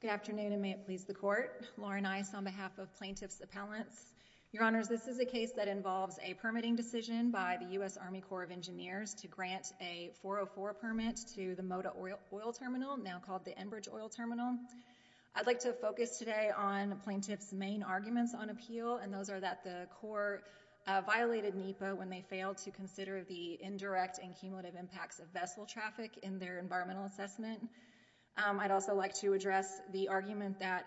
Good afternoon, and may it please the Court. Lauren Ice on behalf of Plaintiff's Appellants. Your Honors, this is a case that involves a permitting decision by the U.S. Army Corps of Engineers to grant a 404 permit to the Moda Oil Terminal, now called the Enbridge Oil Terminal. I'd like to focus today on Plaintiff's main arguments on appeal, and those are that the Corps violated NEPA when they failed to consider the indirect and cumulative impacts of vessel traffic in their environmental assessment. I'd also like to address the argument that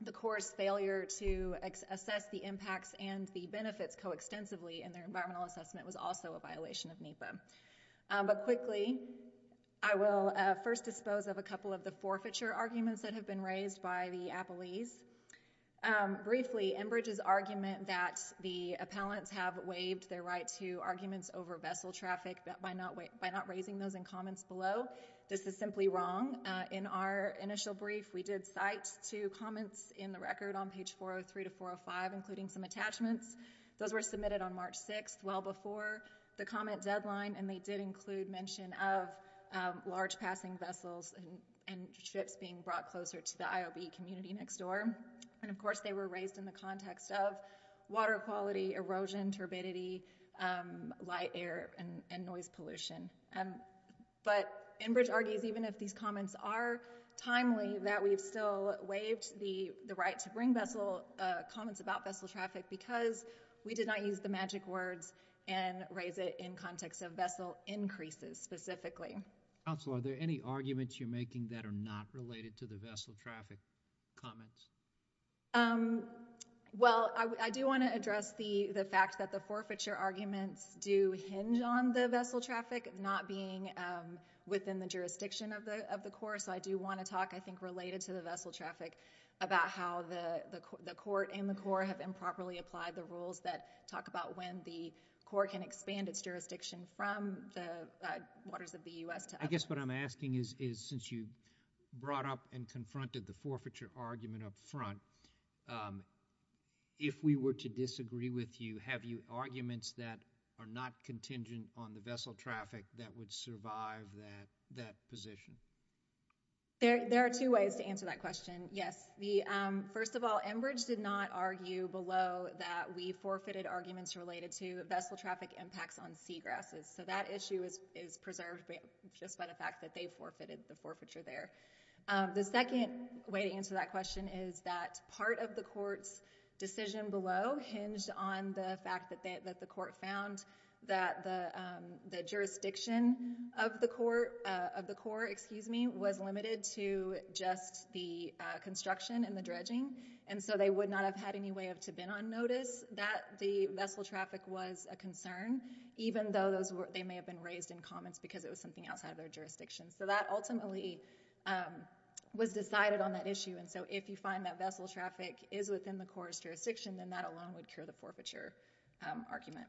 the Corps' failure to assess the impacts and the benefits coextensively in their environmental assessment was also a violation of NEPA. But quickly, I will first dispose of a couple of the forfeiture arguments that have been raised by the appellees. Briefly, Enbridge's argument that the appellants have waived their right to arguments over vessel traffic by not raising those in comments below, this is simply wrong. In our initial brief, we did cite two comments in the record on page 403 to 405, including some attachments. Those were submitted on March 6th, well before the comment deadline, and they did include mention of large passing vessels and ships being brought closer to the IOB community next door. And, of course, they were raised in the context of water quality, erosion, turbidity, light air, and noise pollution. But Enbridge argues, even if these comments are timely, that we've still waived the right to bring comments about vessel traffic because we did not use the magic words and raise it in context of vessel increases specifically. Counsel, are there any arguments you're making that are not related to the vessel traffic comments? Well, I do want to address the fact that the forfeiture arguments do hinge on the vessel traffic not being within the jurisdiction of the Corps, so I do want to talk, I think, related to the vessel traffic about how the Court and the Corps have improperly applied the rules that talk about when the Corps can expand its jurisdiction from the waters of the U.S. to others. I guess what I'm asking is, since you brought up and confronted the forfeiture argument up front, if we were to disagree with you, have you arguments that are not contingent on the vessel traffic that would survive that position? There are two ways to answer that question, yes. First of all, Enbridge did not argue below that we forfeited arguments related to vessel traffic impacts on seagrasses, so that issue is preserved just by the fact that they forfeited the forfeiture there. The second way to answer that question is that part of the Court's decision below hinged on the fact that the Court found that the jurisdiction of the Corps was limited to just the construction and the dredging, and so they would not have had any way to have been on notice that the vessel traffic was a concern, even though they may have been raised in comments because it was something outside of their jurisdiction. That ultimately was decided on that issue, and so if you find that vessel traffic is within the Corps' jurisdiction, then that alone would cure the forfeiture argument.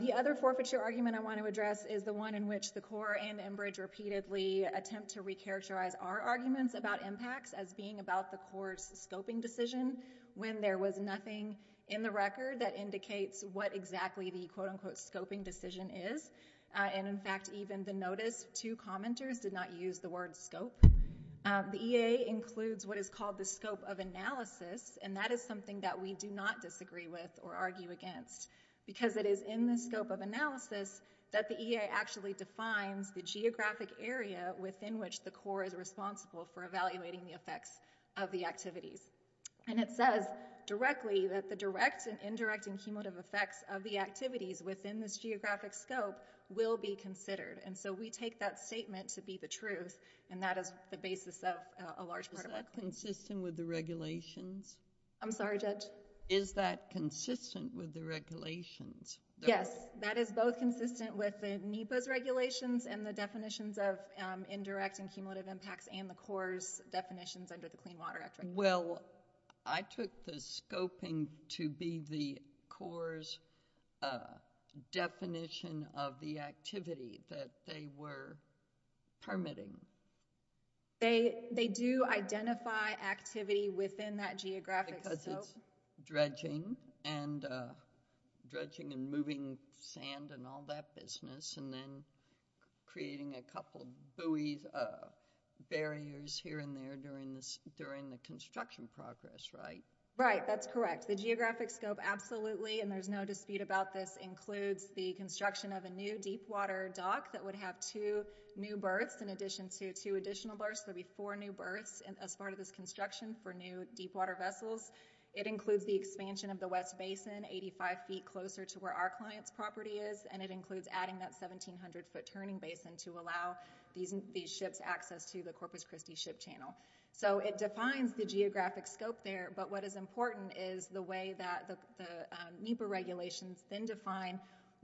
The other forfeiture argument I want to address is the one in which the Corps and Enbridge repeatedly attempt to recharacterize our arguments about impacts as being about the Corps' scoping decision when there was nothing in the record that indicates what exactly the quote-unquote scoping decision is, and in fact, even the notice to commenters did not use the word scope. The EA includes what is called the scope of analysis, and that is something that we do not disagree with or argue against, because it is in the scope of analysis that the EA actually defines the geographic area within which the Corps is responsible for evaluating the effects of the activities, and it says directly that the direct and indirect and cumulative effects of the activities within this geographic scope will be considered, and so we take that statement to be the truth, and that is the basis of a large part of our Is that consistent with the regulations? I'm sorry, Judge? Is that consistent with the regulations? Yes, that is both consistent with the NEPA's regulations and the definitions of indirect and cumulative impacts and the Corps' definitions under the Clean Water Act. Well, I took the scoping to be the Corps' definition of the activity that they were permitting. They do identify activity within that geographic scope. Because it's dredging and moving sand and all that business, and then creating a couple buoys, barriers here and there during the construction progress, right? Right. That's correct. The geographic scope absolutely, and there's no dispute about this, includes the construction of a new deep water dock that would have two new berths in addition to two additional berths. There would be four new berths as part of this construction for new deep water vessels. It includes the expansion of the West Basin, 85 feet closer to where our client's property is, and it includes adding that 1,700-foot turning basin to allow these ships access to the Corpus Christi Ship Channel. So it defines the geographic scope there, but what is important is the way that the HIPAA regulations then define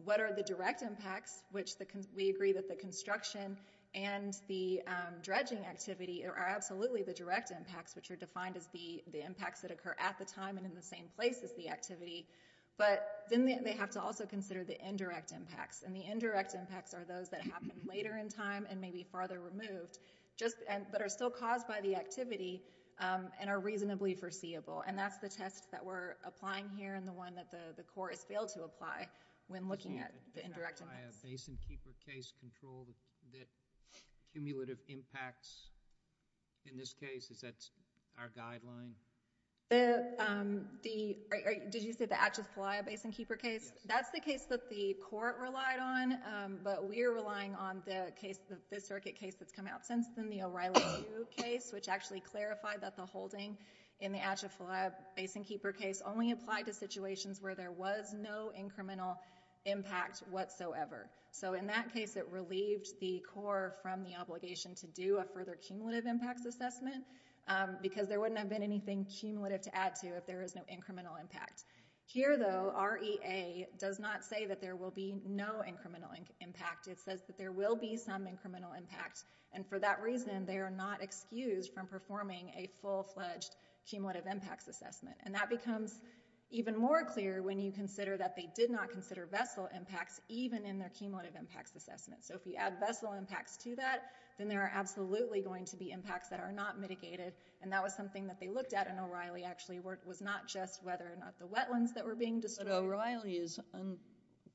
what are the direct impacts, which we agree that the construction and the dredging activity are absolutely the direct impacts, which are defined as the impacts that occur at the time and in the same place as the activity. But then they have to also consider the indirect impacts, and the indirect impacts are those that happen later in time and may be farther removed, but are still caused by the activity and are reasonably foreseeable. And that's the test that we're applying here and the one that the court has failed to apply when looking at the indirect impacts. The Atchafalaya Basin Keeper case control, the cumulative impacts in this case, is that our guideline? Did you say the Atchafalaya Basin Keeper case? Yes. That's the case that the court relied on, but we're relying on the case, the circuit case that's come out since then, the O'Reilly case, which actually clarified that the holding in the Atchafalaya Basin Keeper case only applied to situations where there was no incremental impact whatsoever. So in that case, it relieved the court from the obligation to do a further cumulative impacts assessment because there wouldn't have been anything cumulative to add to if there was no incremental impact. Here though, REA does not say that there will be no incremental impact. It says that there will be some incremental impact, and for that reason, they are not excused from performing a full-fledged cumulative impacts assessment, and that becomes even more clear when you consider that they did not consider vessel impacts even in their cumulative impacts assessment. So if you add vessel impacts to that, then there are absolutely going to be impacts that are not mitigated, and that was something that they looked at, and O'Reilly actually was not just whether or not the wetlands that were being destroyed. But O'Reilly is,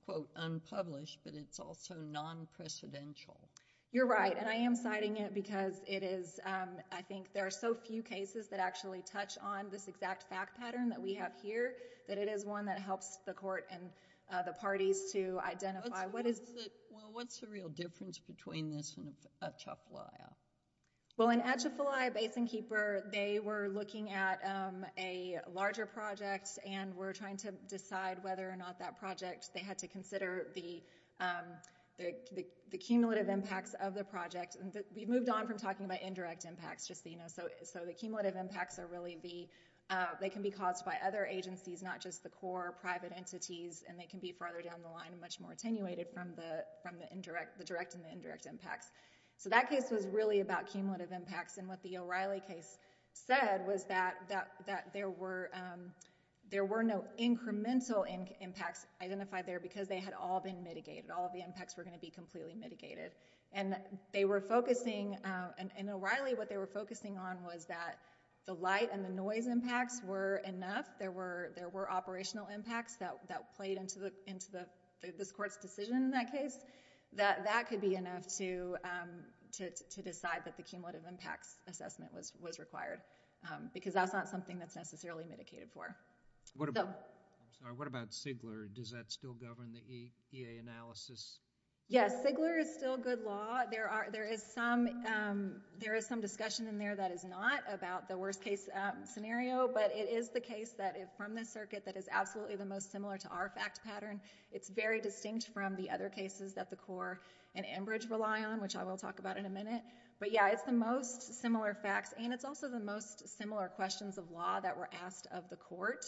quote, unpublished, but it's also non-precedential. You're right, and I am citing it because it is, I think, there are so few cases that actually touch on this exact fact pattern that we have here, that it is one that helps the court and the parties to identify... Well, what's the real difference between this and Atchafalaya? Well, in Atchafalaya Basin Keeper, they were looking at a larger project and were trying to decide whether or not that project... they had to consider the cumulative impacts of the project. We moved on from talking about indirect impacts, just so you know, so the cumulative impacts are really the... they can be caused by other agencies, not just the core private entities, and they can be farther down the line and much more attenuated from the direct and the indirect impacts. So that case was really about cumulative impacts, and what the O'Reilly case said was that there were no incremental impacts identified there because they had all been mitigated. All of the impacts were going to be completely mitigated. And they were focusing... and in O'Reilly, what they were focusing on was that the light and the noise impacts were enough. There were operational impacts that played into this court's decision in that case. That could be enough to decide that the cumulative impacts assessment was required, because that's not something that's necessarily mitigated for. So... I'm sorry. What about Sigler? Does that still govern the EA analysis? Yes. Sigler is still good law. There are... there is some discussion in there that is not about the worst case scenario, but it is the case that from this circuit that is absolutely the most similar to our fact pattern. It's very distinct from the other cases that the core and Enbridge rely on, which I will talk about in a minute, but yeah, it's the most similar facts, and it's also the most similar questions of law that were asked of the court.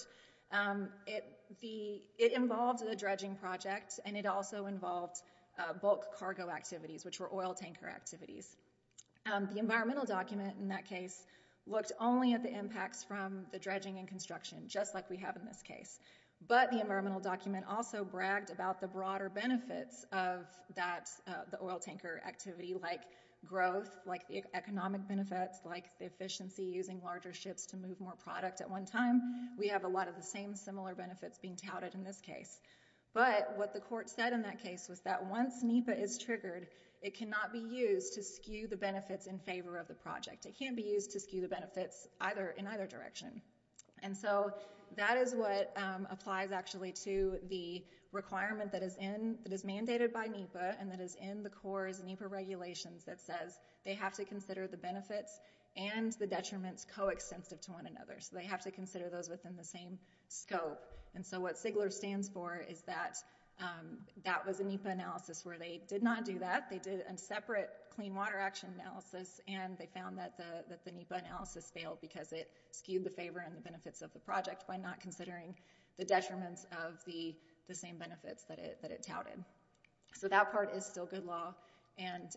It involved a dredging project, and it also involved bulk cargo activities, which were oil tanker activities. The environmental document in that case looked only at the impacts from the dredging and construction, just like we have in this case, but the environmental document also bragged about the broader benefits of that, the oil tanker activity, like growth, like the economic efficiency, using larger ships to move more product at one time. We have a lot of the same similar benefits being touted in this case, but what the court said in that case was that once NEPA is triggered, it cannot be used to skew the benefits in favor of the project. It can't be used to skew the benefits in either direction, and so that is what applies actually to the requirement that is mandated by NEPA and that is in the core's NEPA regulations that says they have to consider the benefits and the detriments coextensive to one another. They have to consider those within the same scope, and so what Sigler stands for is that that was a NEPA analysis where they did not do that. They did a separate clean water action analysis, and they found that the NEPA analysis failed because it skewed the favor and the benefits of the project by not considering the detriments of the same benefits that it touted. So that part is still good law, and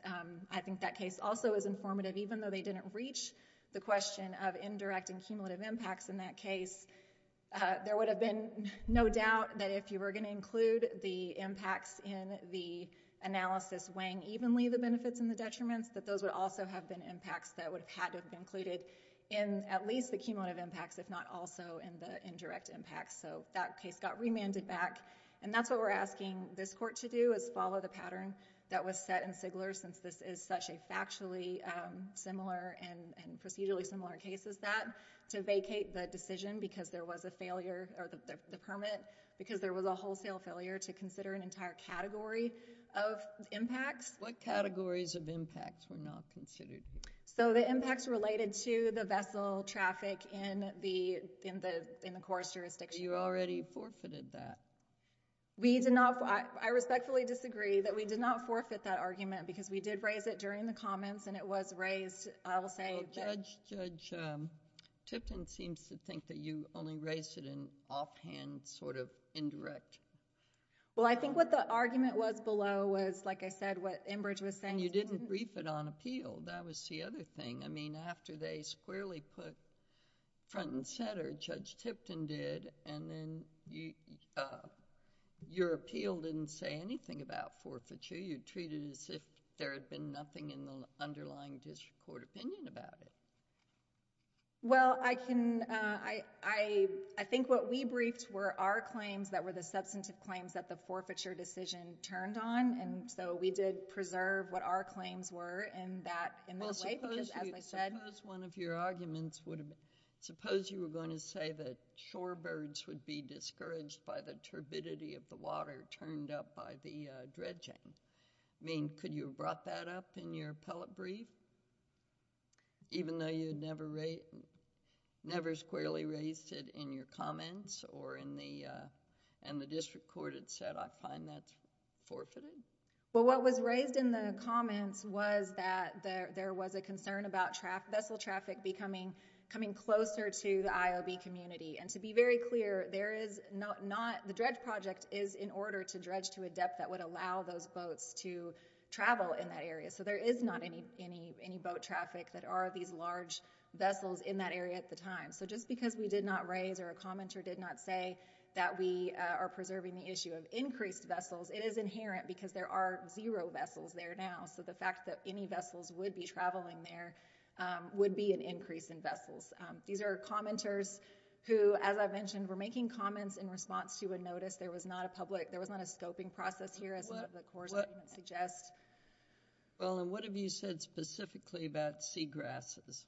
I think that case also is informative. Even though they didn't reach the question of indirect and cumulative impacts in that case, there would have been no doubt that if you were going to include the impacts in the analysis weighing evenly the benefits and the detriments, that those would also have been impacts that would have had to have been included in at least the cumulative impacts if not also in the indirect impacts, so that case got remanded back, and that's what we're going to have to do is follow the pattern that was set in Sigler since this is such a factually similar and procedurally similar case as that to vacate the decision because there was a failure, or the permit, because there was a wholesale failure to consider an entire category of impacts. What categories of impacts were not considered? So the impacts related to the vessel traffic in the course jurisdiction. You already forfeited that. We did not... I respectfully disagree that we did not forfeit that argument because we did raise it during the comments and it was raised, I will say... Well, Judge Tipton seems to think that you only raised it in offhand sort of indirect. Well, I think what the argument was below was, like I said, what Enbridge was saying. You didn't brief it on appeal, that was the other thing. I mean, after they squarely put front and center, Judge Tipton did, and then your appeal didn't say anything about forfeiture. You treated it as if there had been nothing in the underlying district court opinion about it. Well, I can... I think what we briefed were our claims that were the substantive claims that the forfeiture decision turned on, and so we did preserve what our claims were in that way because, as I said... Well, suppose one of your arguments would have... suppose you were going to say that shorebirds would be discouraged by the turbidity of the water turned up by the dredging. I mean, could you have brought that up in your appellate brief, even though you never squarely raised it in your comments or in the... and the district court had said, I find that's forfeited? Well, what was raised in the comments was that there was a concern about vessel traffic becoming closer to the IOB community, and to be very clear, there is not... the dredge project is in order to dredge to a depth that would allow those boats to travel in that area, so there is not any boat traffic that are these large vessels in that area at the time. So just because we did not raise or a commenter did not say that we are preserving the issue of increased vessels, it is inherent because there are zero vessels there now, so the fact that any vessels would be traveling there would be an increase in vessels. These are commenters who, as I've mentioned, were making comments in response to a notice. There was not a public... there was not a scoping process here, as one of the courts would suggest. Well, and what have you said specifically about seagrasses?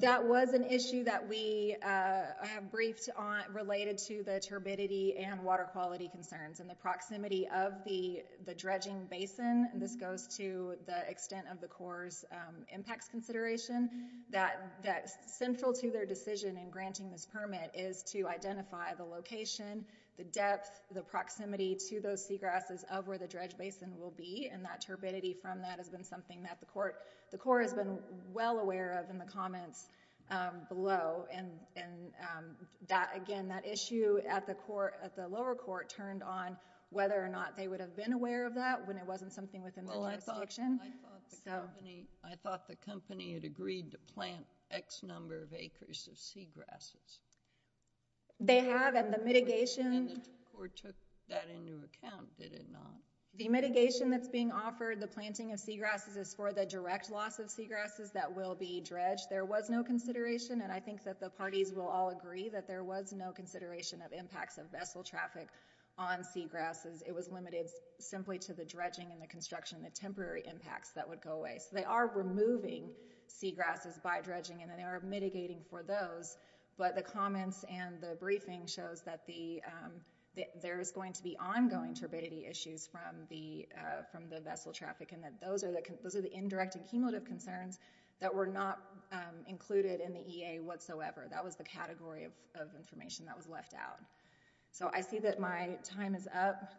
That was an issue that we have briefed on related to the turbidity and water quality concerns and the proximity of the dredging basin. This goes to the extent of the Corps' impacts consideration that central to their decision in granting this permit is to identify the location, the depth, the proximity to those seagrasses of where the dredge basin will be, and that turbidity from that has been something that the Corps has been well aware of in the comments below, and that, again, that issue at the lower court turned on whether or not they would have been aware of that when it wasn't something within their jurisdiction, so... Well, I thought the company had agreed to plant X number of acres of seagrasses. They have, and the mitigation... And the Corps took that into account, did it not? The mitigation that's being offered, the planting of seagrasses, is for the direct loss of seagrasses that will be dredged. There was no consideration, and I think that the parties will all agree that there was no consideration of impacts of vessel traffic on seagrasses. It was limited simply to the dredging and the construction, the temporary impacts that would go away. So they are removing seagrasses by dredging, and they are mitigating for those, but the comments and the briefing shows that there is going to be ongoing turbidity issues from the vessel traffic, and that those are the indirect and cumulative concerns that were not included in the EA whatsoever. That was the category of information that was left out. So I see that my time is up.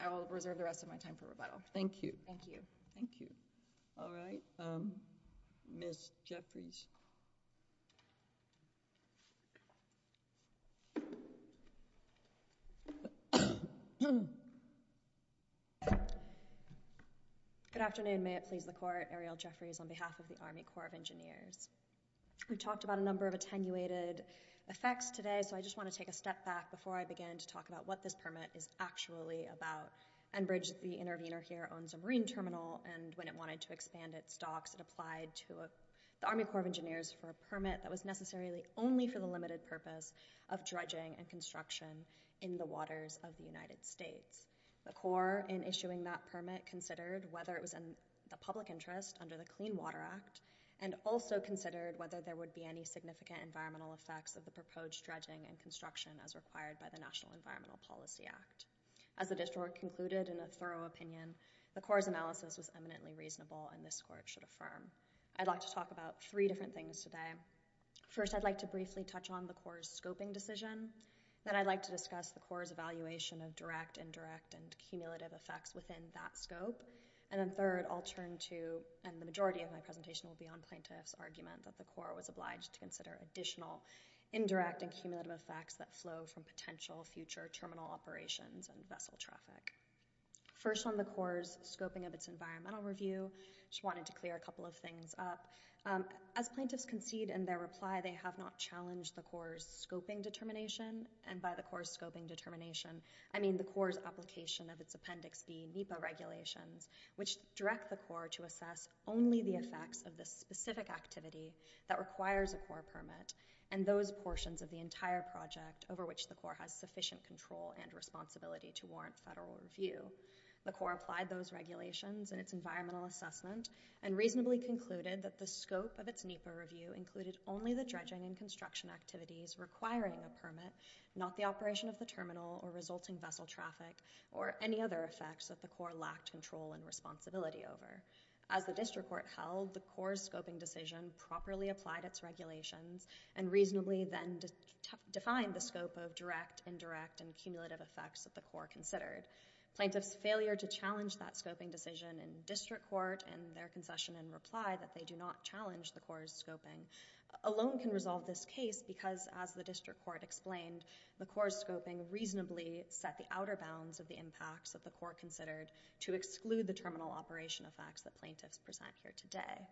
I will reserve the rest of my time for rebuttal. Thank you. Thank you. Thank you. All right. Ms. Jeffries. Good afternoon. May it please the Court. Ariel Jeffries on behalf of the Army Corps of Engineers. We talked about a number of attenuated effects today, so I just want to take a step back before I begin to talk about what this permit is actually about. Enbridge, the intervener here, owns a marine terminal, and when it wanted to expand its docks, it applied to the Army Corps of Engineers for a permit that was necessarily only for the limited purpose of dredging and construction in the waters of the United States. The Corps, in issuing that permit, considered whether it was in the public interest under the Clean Water Act, and also considered whether there would be any significant environmental effects of the proposed dredging and construction as required by the National Environmental Policy Act. As the district concluded in a thorough opinion, the Corps' analysis was eminently reasonable, and this Court should affirm. I'd like to talk about three different things today. First, I'd like to briefly touch on the Corps' scoping decision. Then I'd like to discuss the Corps' evaluation of direct, indirect, and cumulative effects within that scope. And then third, I'll turn to, and the majority of my presentation will be on plaintiff's argument that the Corps was obliged to consider additional indirect and cumulative effects that flow from potential future terminal operations and vessel traffic. First on the Corps' scoping of its environmental review, I just wanted to clear a couple of things up. As plaintiffs concede in their reply, they have not challenged the Corps' scoping determination, and by the Corps' scoping determination, I mean the Corps' application of its Appendix B NEPA regulations, which direct the Corps to assess only the effects of the specific activity that requires a Corps permit, and those portions of the entire project over which the Corps has sufficient control and responsibility to warrant federal review. The Corps applied those regulations in its environmental assessment and reasonably concluded that the scope of its NEPA review included only the dredging and construction activities requiring a permit, not the operation of the terminal or resulting vessel traffic or any other effects that the Corps lacked control and responsibility over. As the District Court held, the Corps' scoping decision properly applied its regulations and reasonably then defined the scope of direct, indirect, and cumulative effects that the Corps considered. Plaintiffs' failure to challenge that scoping decision in District Court in their concession and reply that they do not challenge the Corps' scoping alone can resolve this case because, as the District Court explained, the Corps' scoping reasonably set the outer bounds of the impacts that the Corps considered to exclude the terminal operation effects that plaintiffs present here today.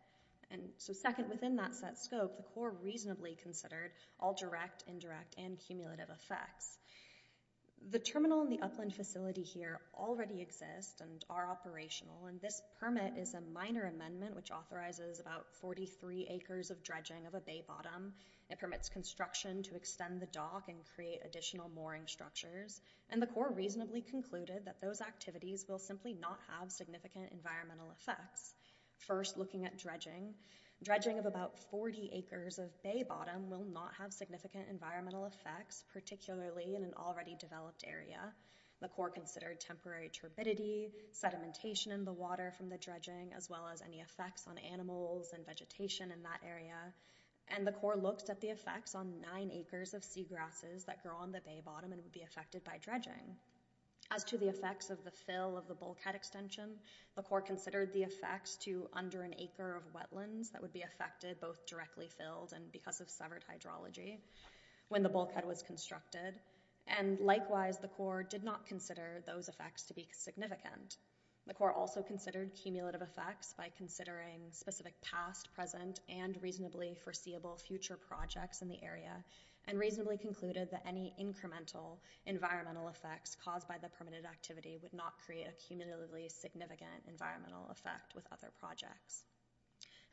So second, within that set scope, the Corps reasonably considered all direct, indirect, and cumulative effects. The terminal and the upland facility here already exist and are operational, and this permit is a minor amendment which authorizes about 43 acres of dredging of a bay bottom. It permits construction to extend the dock and create additional mooring structures, and the Corps reasonably concluded that those activities will simply not have significant environmental effects. First, looking at dredging, dredging of about 40 acres of bay bottom will not have significant environmental effects, particularly in an already developed area. The Corps considered temporary turbidity, sedimentation in the water from the dredging, as well as any effects on animals and vegetation in that area, and the Corps looked at the effects on 9 acres of seagrasses that grow on the bay bottom and would be affected by dredging. As to the effects of the fill of the bulkhead extension, the Corps considered the effects to under an acre of wetlands that would be affected both directly filled and because of severed hydrology when the bulkhead was constructed, and likewise, the Corps did not consider those effects to be significant. The Corps also considered cumulative effects by considering specific past, present, and reasonably foreseeable future projects in the area, and reasonably concluded that any incremental environmental effects caused by the permitted activity would not create a cumulatively significant environmental effect with other projects.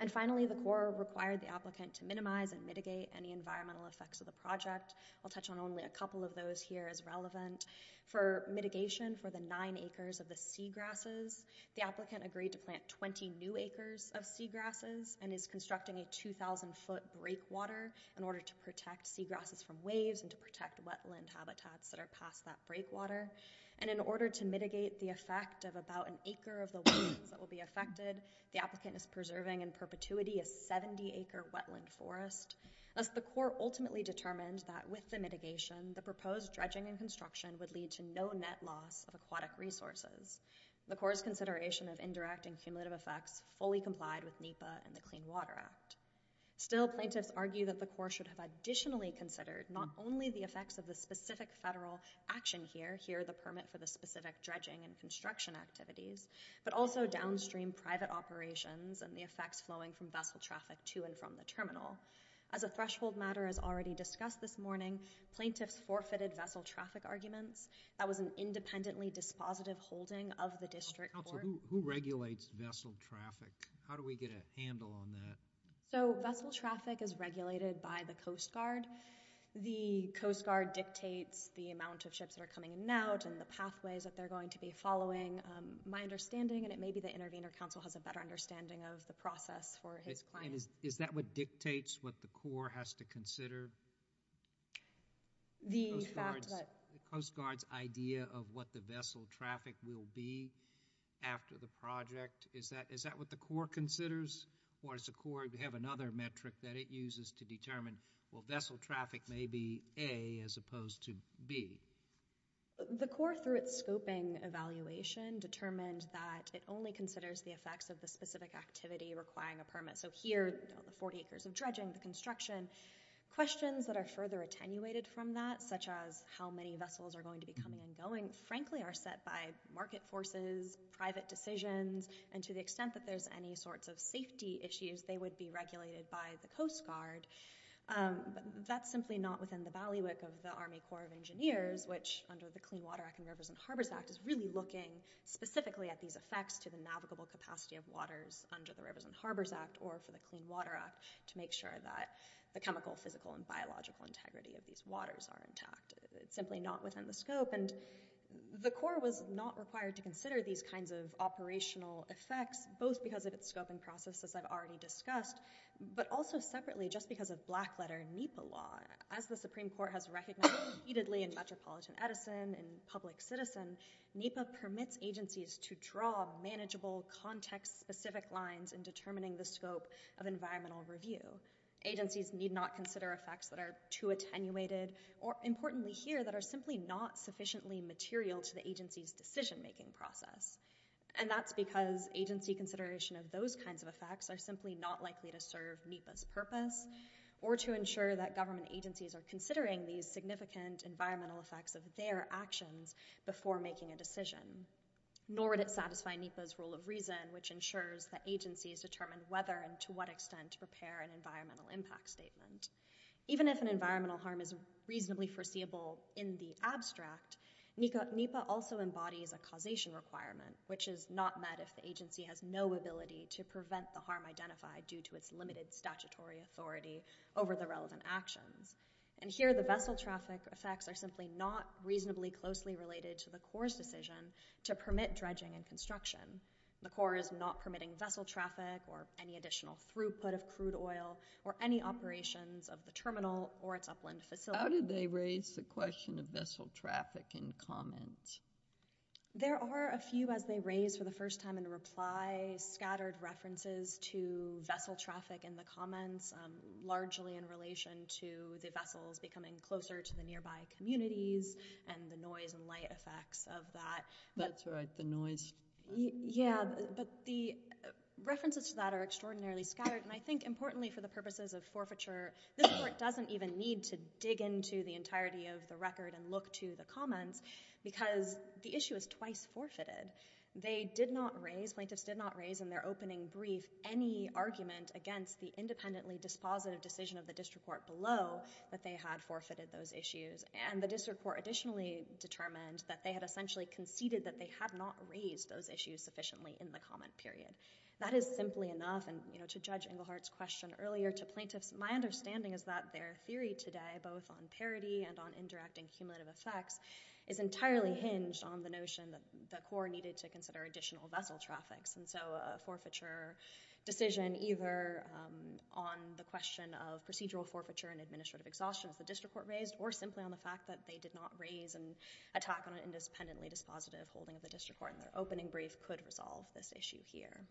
And finally, the Corps required the applicant to minimize and mitigate any environmental effects of the project. I'll touch on only a couple of those here as relevant. For mitigation for the 9 acres of the seagrasses, the applicant agreed to plant 20 new acres of seagrasses and is constructing a 2,000 foot breakwater in order to protect seagrasses from waves and to protect wetland habitats that are past that breakwater, and in order to mitigate the effect of about an acre of the wetlands that will be affected, the applicant is preserving in perpetuity a 70 acre wetland forest. Thus, the Corps ultimately determined that with the mitigation, the proposed dredging and construction would lead to no net loss of aquatic resources. The Corps' consideration of indirect and cumulative effects fully complied with NEPA and the Clean Water Act. Still, plaintiffs argue that the Corps should have additionally considered not only the effects of the specific federal action here, here the permit for the specific dredging and construction activities, but also downstream private operations and the effects flowing from vessel traffic to and from the terminal. As a threshold matter as already discussed this morning, plaintiffs forfeited vessel traffic arguments. That was an independently dispositive holding of the district court. Who regulates vessel traffic? How do we get a handle on that? So vessel traffic is regulated by the Coast Guard. The Coast Guard dictates the amount of ships that are coming in and out and the pathways that they're going to be following. My understanding, and it may be the intervener counsel has a better understanding of the process for his client. Is that what dictates what the Corps has to consider? The fact that... The Coast Guard's idea of what the vessel traffic will be after the project, is that what the Corps considers? Or does the Corps have another metric that it uses to determine, well, vessel traffic may be A as opposed to B? The Corps, through its scoping evaluation, determined that it only considers the effects of the specific activity requiring a permit. So here, the 40 acres of dredging, the construction, questions that are further attenuated from that, such as how many vessels are going to be coming and going, frankly, are set by market forces, private decisions, and to the extent that there's any sorts of safety issues, they would be regulated by the Coast Guard. That's simply not within the ballywick of the Army Corps of Engineers, which under the Clean Water Act and Rivers and Harbors Act is really looking specifically at these effects to the navigable capacity of waters under the Rivers and Harbors Act, or for the Clean Water Act, to make sure that the chemical, physical, and biological integrity of these waters are intact. It's simply not within the scope, and the Corps was not required to consider these kinds of operational effects, both because of its scoping process, as I've already discussed, but also separately, just because of black letter NEPA law. As the Supreme Court has recognized repeatedly in Metropolitan Edison, in Public Citizen, NEPA permits agencies to draw manageable, context-specific lines in determining the scope of environmental review. Agencies need not consider effects that are too attenuated, or importantly here, that are simply not sufficiently material to the agency's decision-making process. And that's because agency consideration of those kinds of effects are simply not likely to serve NEPA's purpose, or to ensure that government agencies are considering these significant environmental effects of their actions before making a decision. Nor would it satisfy NEPA's rule of reason, which ensures that agencies determine whether and to what extent to prepare an environmental impact statement. Even if an environmental harm is reasonably foreseeable in the abstract, NEPA also embodies a causation requirement, which is not met if the agency has no ability to prevent the harm identified due to its limited statutory authority over the relevant actions. And here, the vessel traffic effects are simply not reasonably closely related to the Corps' decision to permit dredging and construction. The Corps is not permitting vessel traffic, or any additional throughput of crude oil, or any operations of the terminal or its upland facilities. How did they raise the question of vessel traffic in comments? There are a few, as they raise for the first time in reply, scattered references to vessel traffic in relation to the vessels becoming closer to the nearby communities, and the noise and light effects of that. That's right. The noise. Yeah, but the references to that are extraordinarily scattered, and I think, importantly, for the purposes of forfeiture, this Court doesn't even need to dig into the entirety of the record and look to the comments, because the issue is twice forfeited. They did not raise, plaintiffs did not raise in their opening brief, any argument against the independently dispositive decision of the District Court below that they had forfeited those issues, and the District Court additionally determined that they had essentially conceded that they had not raised those issues sufficiently in the comment period. That is simply enough, and to judge Engelhardt's question earlier, to plaintiffs, my understanding is that their theory today, both on parity and on indirect and cumulative effects, is entirely hinged on the notion that the Corps needed to consider additional vessel traffics, and so a forfeiture decision either on the question of procedural forfeiture and administrative exhaustion as the District Court raised, or simply on the fact that they did not raise an attack on an independently dispositive holding of the District Court in their opening brief could resolve this issue here.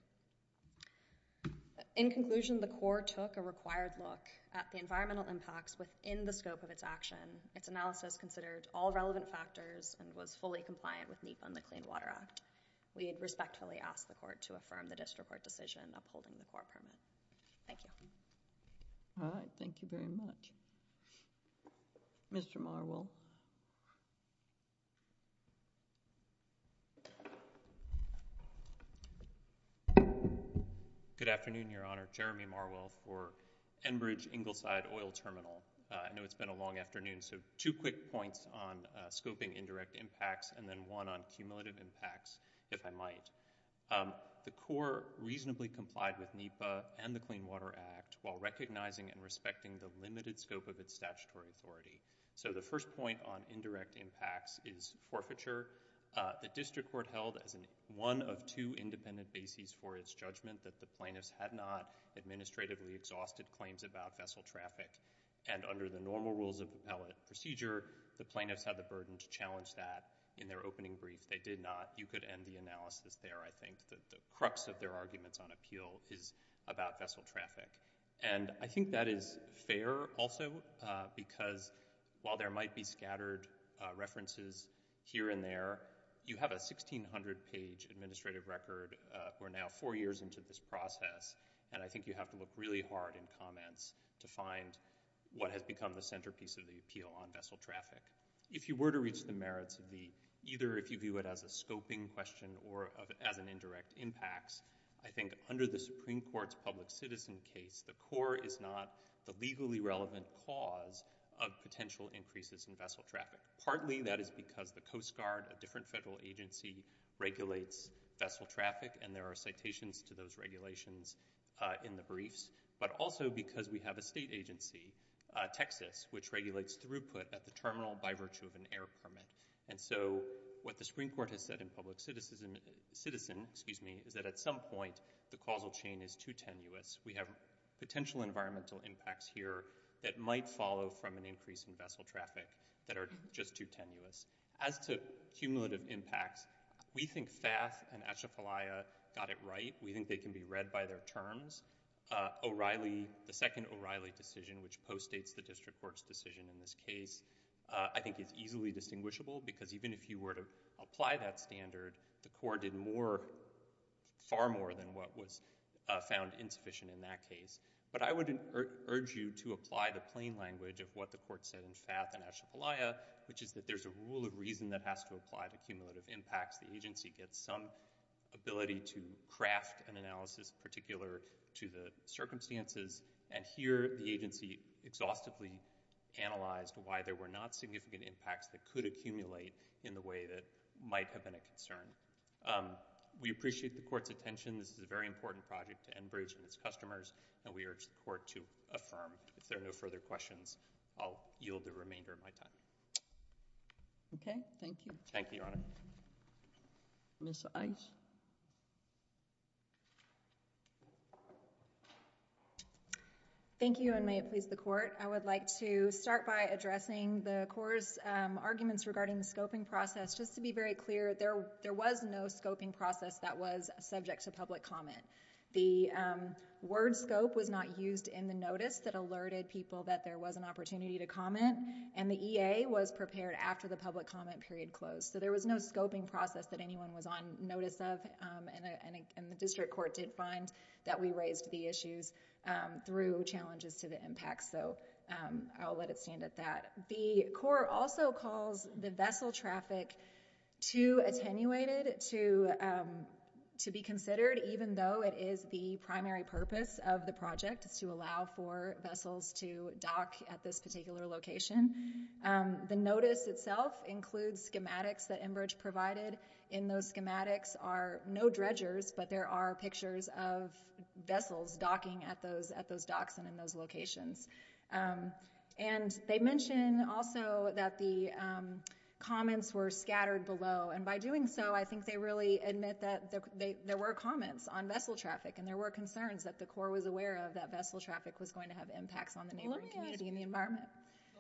In conclusion, the Corps took a required look at the environmental impacts within the scope of its action. Its analysis considered all relevant factors and was fully compliant with NEPA and the Clean Water Act. We respectfully ask the Court to affirm the District Court decision upholding the Corps permit. Thank you. All right. Thank you very much. Mr. Marwell. Good afternoon, Your Honor. Jeremy Marwell for Enbridge Ingleside Oil Terminal. I know it's been a long afternoon, so two quick points on scoping indirect impacts, and then one on cumulative impacts. If I might, the Corps reasonably complied with NEPA and the Clean Water Act while recognizing and respecting the limited scope of its statutory authority. So the first point on indirect impacts is forfeiture. The District Court held as one of two independent bases for its judgment that the plaintiffs had not administratively exhausted claims about vessel traffic, and under the normal rules of appellate procedure, the plaintiffs had the burden to challenge that in their opening brief. If they did not, you could end the analysis there, I think, that the crux of their arguments on appeal is about vessel traffic. And I think that is fair, also, because while there might be scattered references here and there, you have a 1,600-page administrative record. We're now four years into this process, and I think you have to look really hard in comments to find what has become the centerpiece of the appeal on vessel traffic. If you were to reach the merits of the—either if you view it as a scoping question or as an indirect impacts, I think under the Supreme Court's public citizen case, the Corps is not the legally relevant cause of potential increases in vessel traffic. Partly, that is because the Coast Guard, a different federal agency, regulates vessel traffic, and there are citations to those regulations in the briefs, but also because we have a state agency, Texas, which regulates throughput at the terminal by virtue of an air permit. And so what the Supreme Court has said in public citizen is that at some point the causal chain is too tenuous. We have potential environmental impacts here that might follow from an increase in vessel traffic that are just too tenuous. As to cumulative impacts, we think FAF and Atchafalaya got it right. We think they can be read by their terms. O'Reilly—the second O'Reilly decision, which postdates the district court's decision in this case, I think is easily distinguishable because even if you were to apply that standard, the Corps did more—far more than what was found insufficient in that case. But I would urge you to apply the plain language of what the Court said in FAF and Atchafalaya, which is that there's a rule of reason that has to apply to cumulative impacts. The agency gets some ability to craft an analysis particular to the circumstances, and here the agency exhaustively analyzed why there were not significant impacts that could accumulate in the way that might have been a concern. We appreciate the Court's attention. This is a very important project to Enbridge and its customers, and we urge the Court to affirm. If there are no further questions, I'll yield the remainder of my time. Okay. Thank you. Thank you, Your Honor. Ms. Ice? Thank you, and may it please the Court. I would like to start by addressing the Corps' arguments regarding the scoping process. Just to be very clear, there was no scoping process that was subject to public comment. The word scope was not used in the notice that alerted people that there was an opportunity to comment, and the EA was prepared after the public comment period closed. So there was no scoping process that anyone was on notice of, and the District Court did find that we raised the issues through challenges to the impacts, so I'll let it stand at that. The Corps also calls the vessel traffic too attenuated to be considered, even though it is the primary purpose of the project is to allow for vessels to dock at this particular location. The notice itself includes schematics that Enbridge provided. In those schematics are no dredgers, but there are pictures of vessels docking at those docks and in those locations. And they mention also that the comments were scattered below, and by doing so, I think they really admit that there were comments on vessel traffic, and there were concerns that the Corps was aware of that vessel traffic was going to have impacts on the neighboring community and the environment.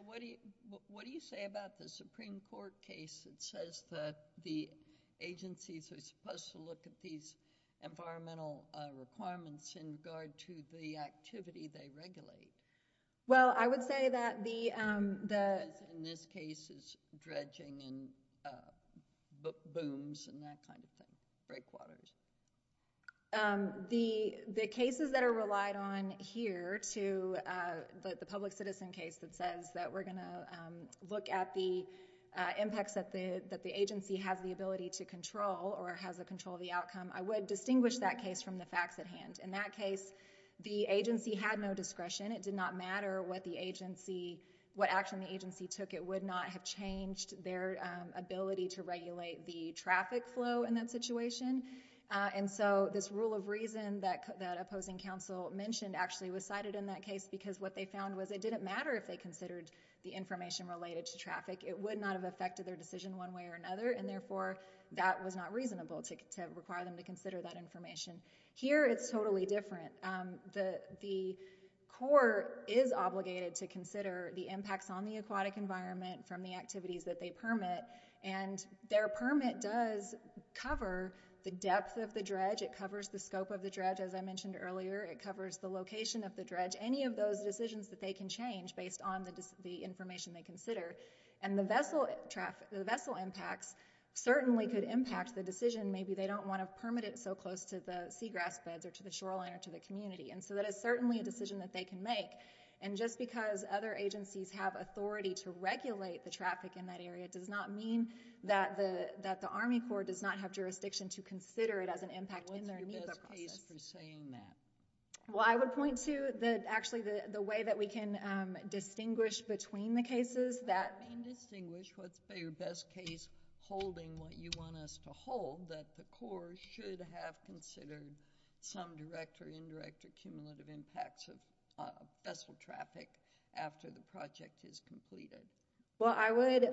What do you say about the Supreme Court case that says that the agencies are supposed to look at these environmental requirements in regard to the activity they regulate? Well, I would say that the... In this case, it's dredging and booms and that kind of thing, breakwaters. The cases that are relied on here to the public citizen case that says that we're going to look at the impacts that the agency has the ability to control or has the control of the outcome, I would distinguish that case from the facts at hand. In that case, the agency had no discretion. It did not matter what action the agency took. It would not have changed their ability to regulate the traffic flow in that situation. And so this rule of reason that opposing counsel mentioned actually was cited in that case because what they found was it didn't matter if they considered the information related to traffic. It would not have affected their decision one way or another, and therefore, that was not reasonable to require them to consider that information. Here, it's totally different. The court is obligated to consider the impacts on the aquatic environment from the activities that they permit, and their permit does cover the depth of the dredge. It covers the scope of the dredge, as I mentioned earlier. It covers the location of the dredge, any of those decisions that they can change based on the information they consider. And the vessel impacts certainly could impact the decision. Maybe they don't want to permit it so close to the seagrass beds or to the shoreline or to the community. And so that is certainly a decision that they can make. And just because other agencies have authority to regulate the traffic in that area does not mean that the Army Corps does not have jurisdiction to consider it as an impact in their NEPA process. What's your best case for saying that? Well, I would point to actually the way that we can distinguish between the cases that... You can distinguish what's your best case holding what you want us to hold, that the Army Corps should have considered some direct or indirect or cumulative impacts of vessel traffic after the project is completed. Well, I would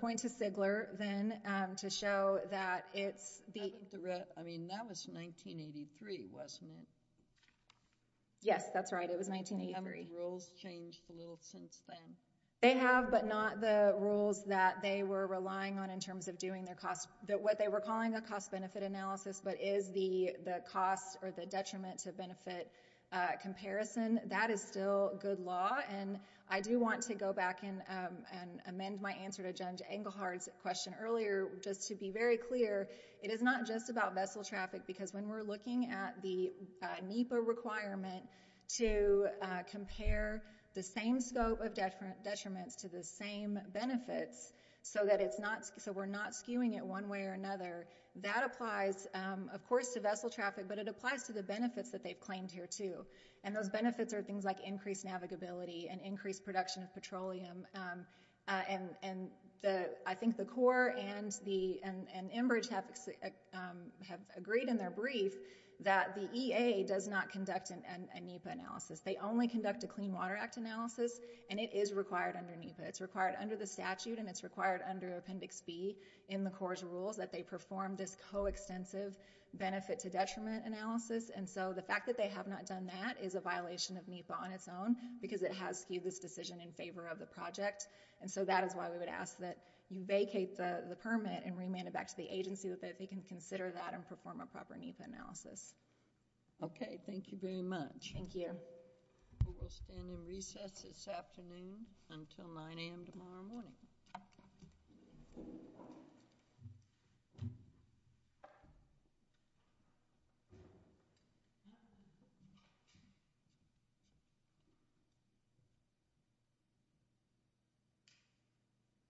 point to Sigler then to show that it's... I mean, that was 1983, wasn't it? Yes, that's right. It was 1983. Have the rules changed a little since then? They have, but not the rules that they were relying on in terms of doing their cost... what is the cost or the detriment to benefit comparison? That is still good law, and I do want to go back and amend my answer to Judge Engelhard's question earlier just to be very clear. It is not just about vessel traffic because when we're looking at the NEPA requirement to compare the same scope of detriments to the same benefits so that it's not... so it applies, of course, to vessel traffic, but it applies to the benefits that they've claimed here, too, and those benefits are things like increased navigability and increased production of petroleum. I think the Corps and Enbridge have agreed in their brief that the EA does not conduct a NEPA analysis. They only conduct a Clean Water Act analysis, and it is required under NEPA. It's required under the statute, and it's required under Appendix B in the Corps' rules that they perform this coextensive benefit to detriment analysis, and so the fact that they have not done that is a violation of NEPA on its own because it has skewed this decision in favor of the project, and so that is why we would ask that you vacate the permit and remand it back to the agency that they can consider that and perform a proper NEPA analysis. Okay. Thank you very much. Thank you. We will stand in recess this afternoon until 9 a.m. tomorrow morning.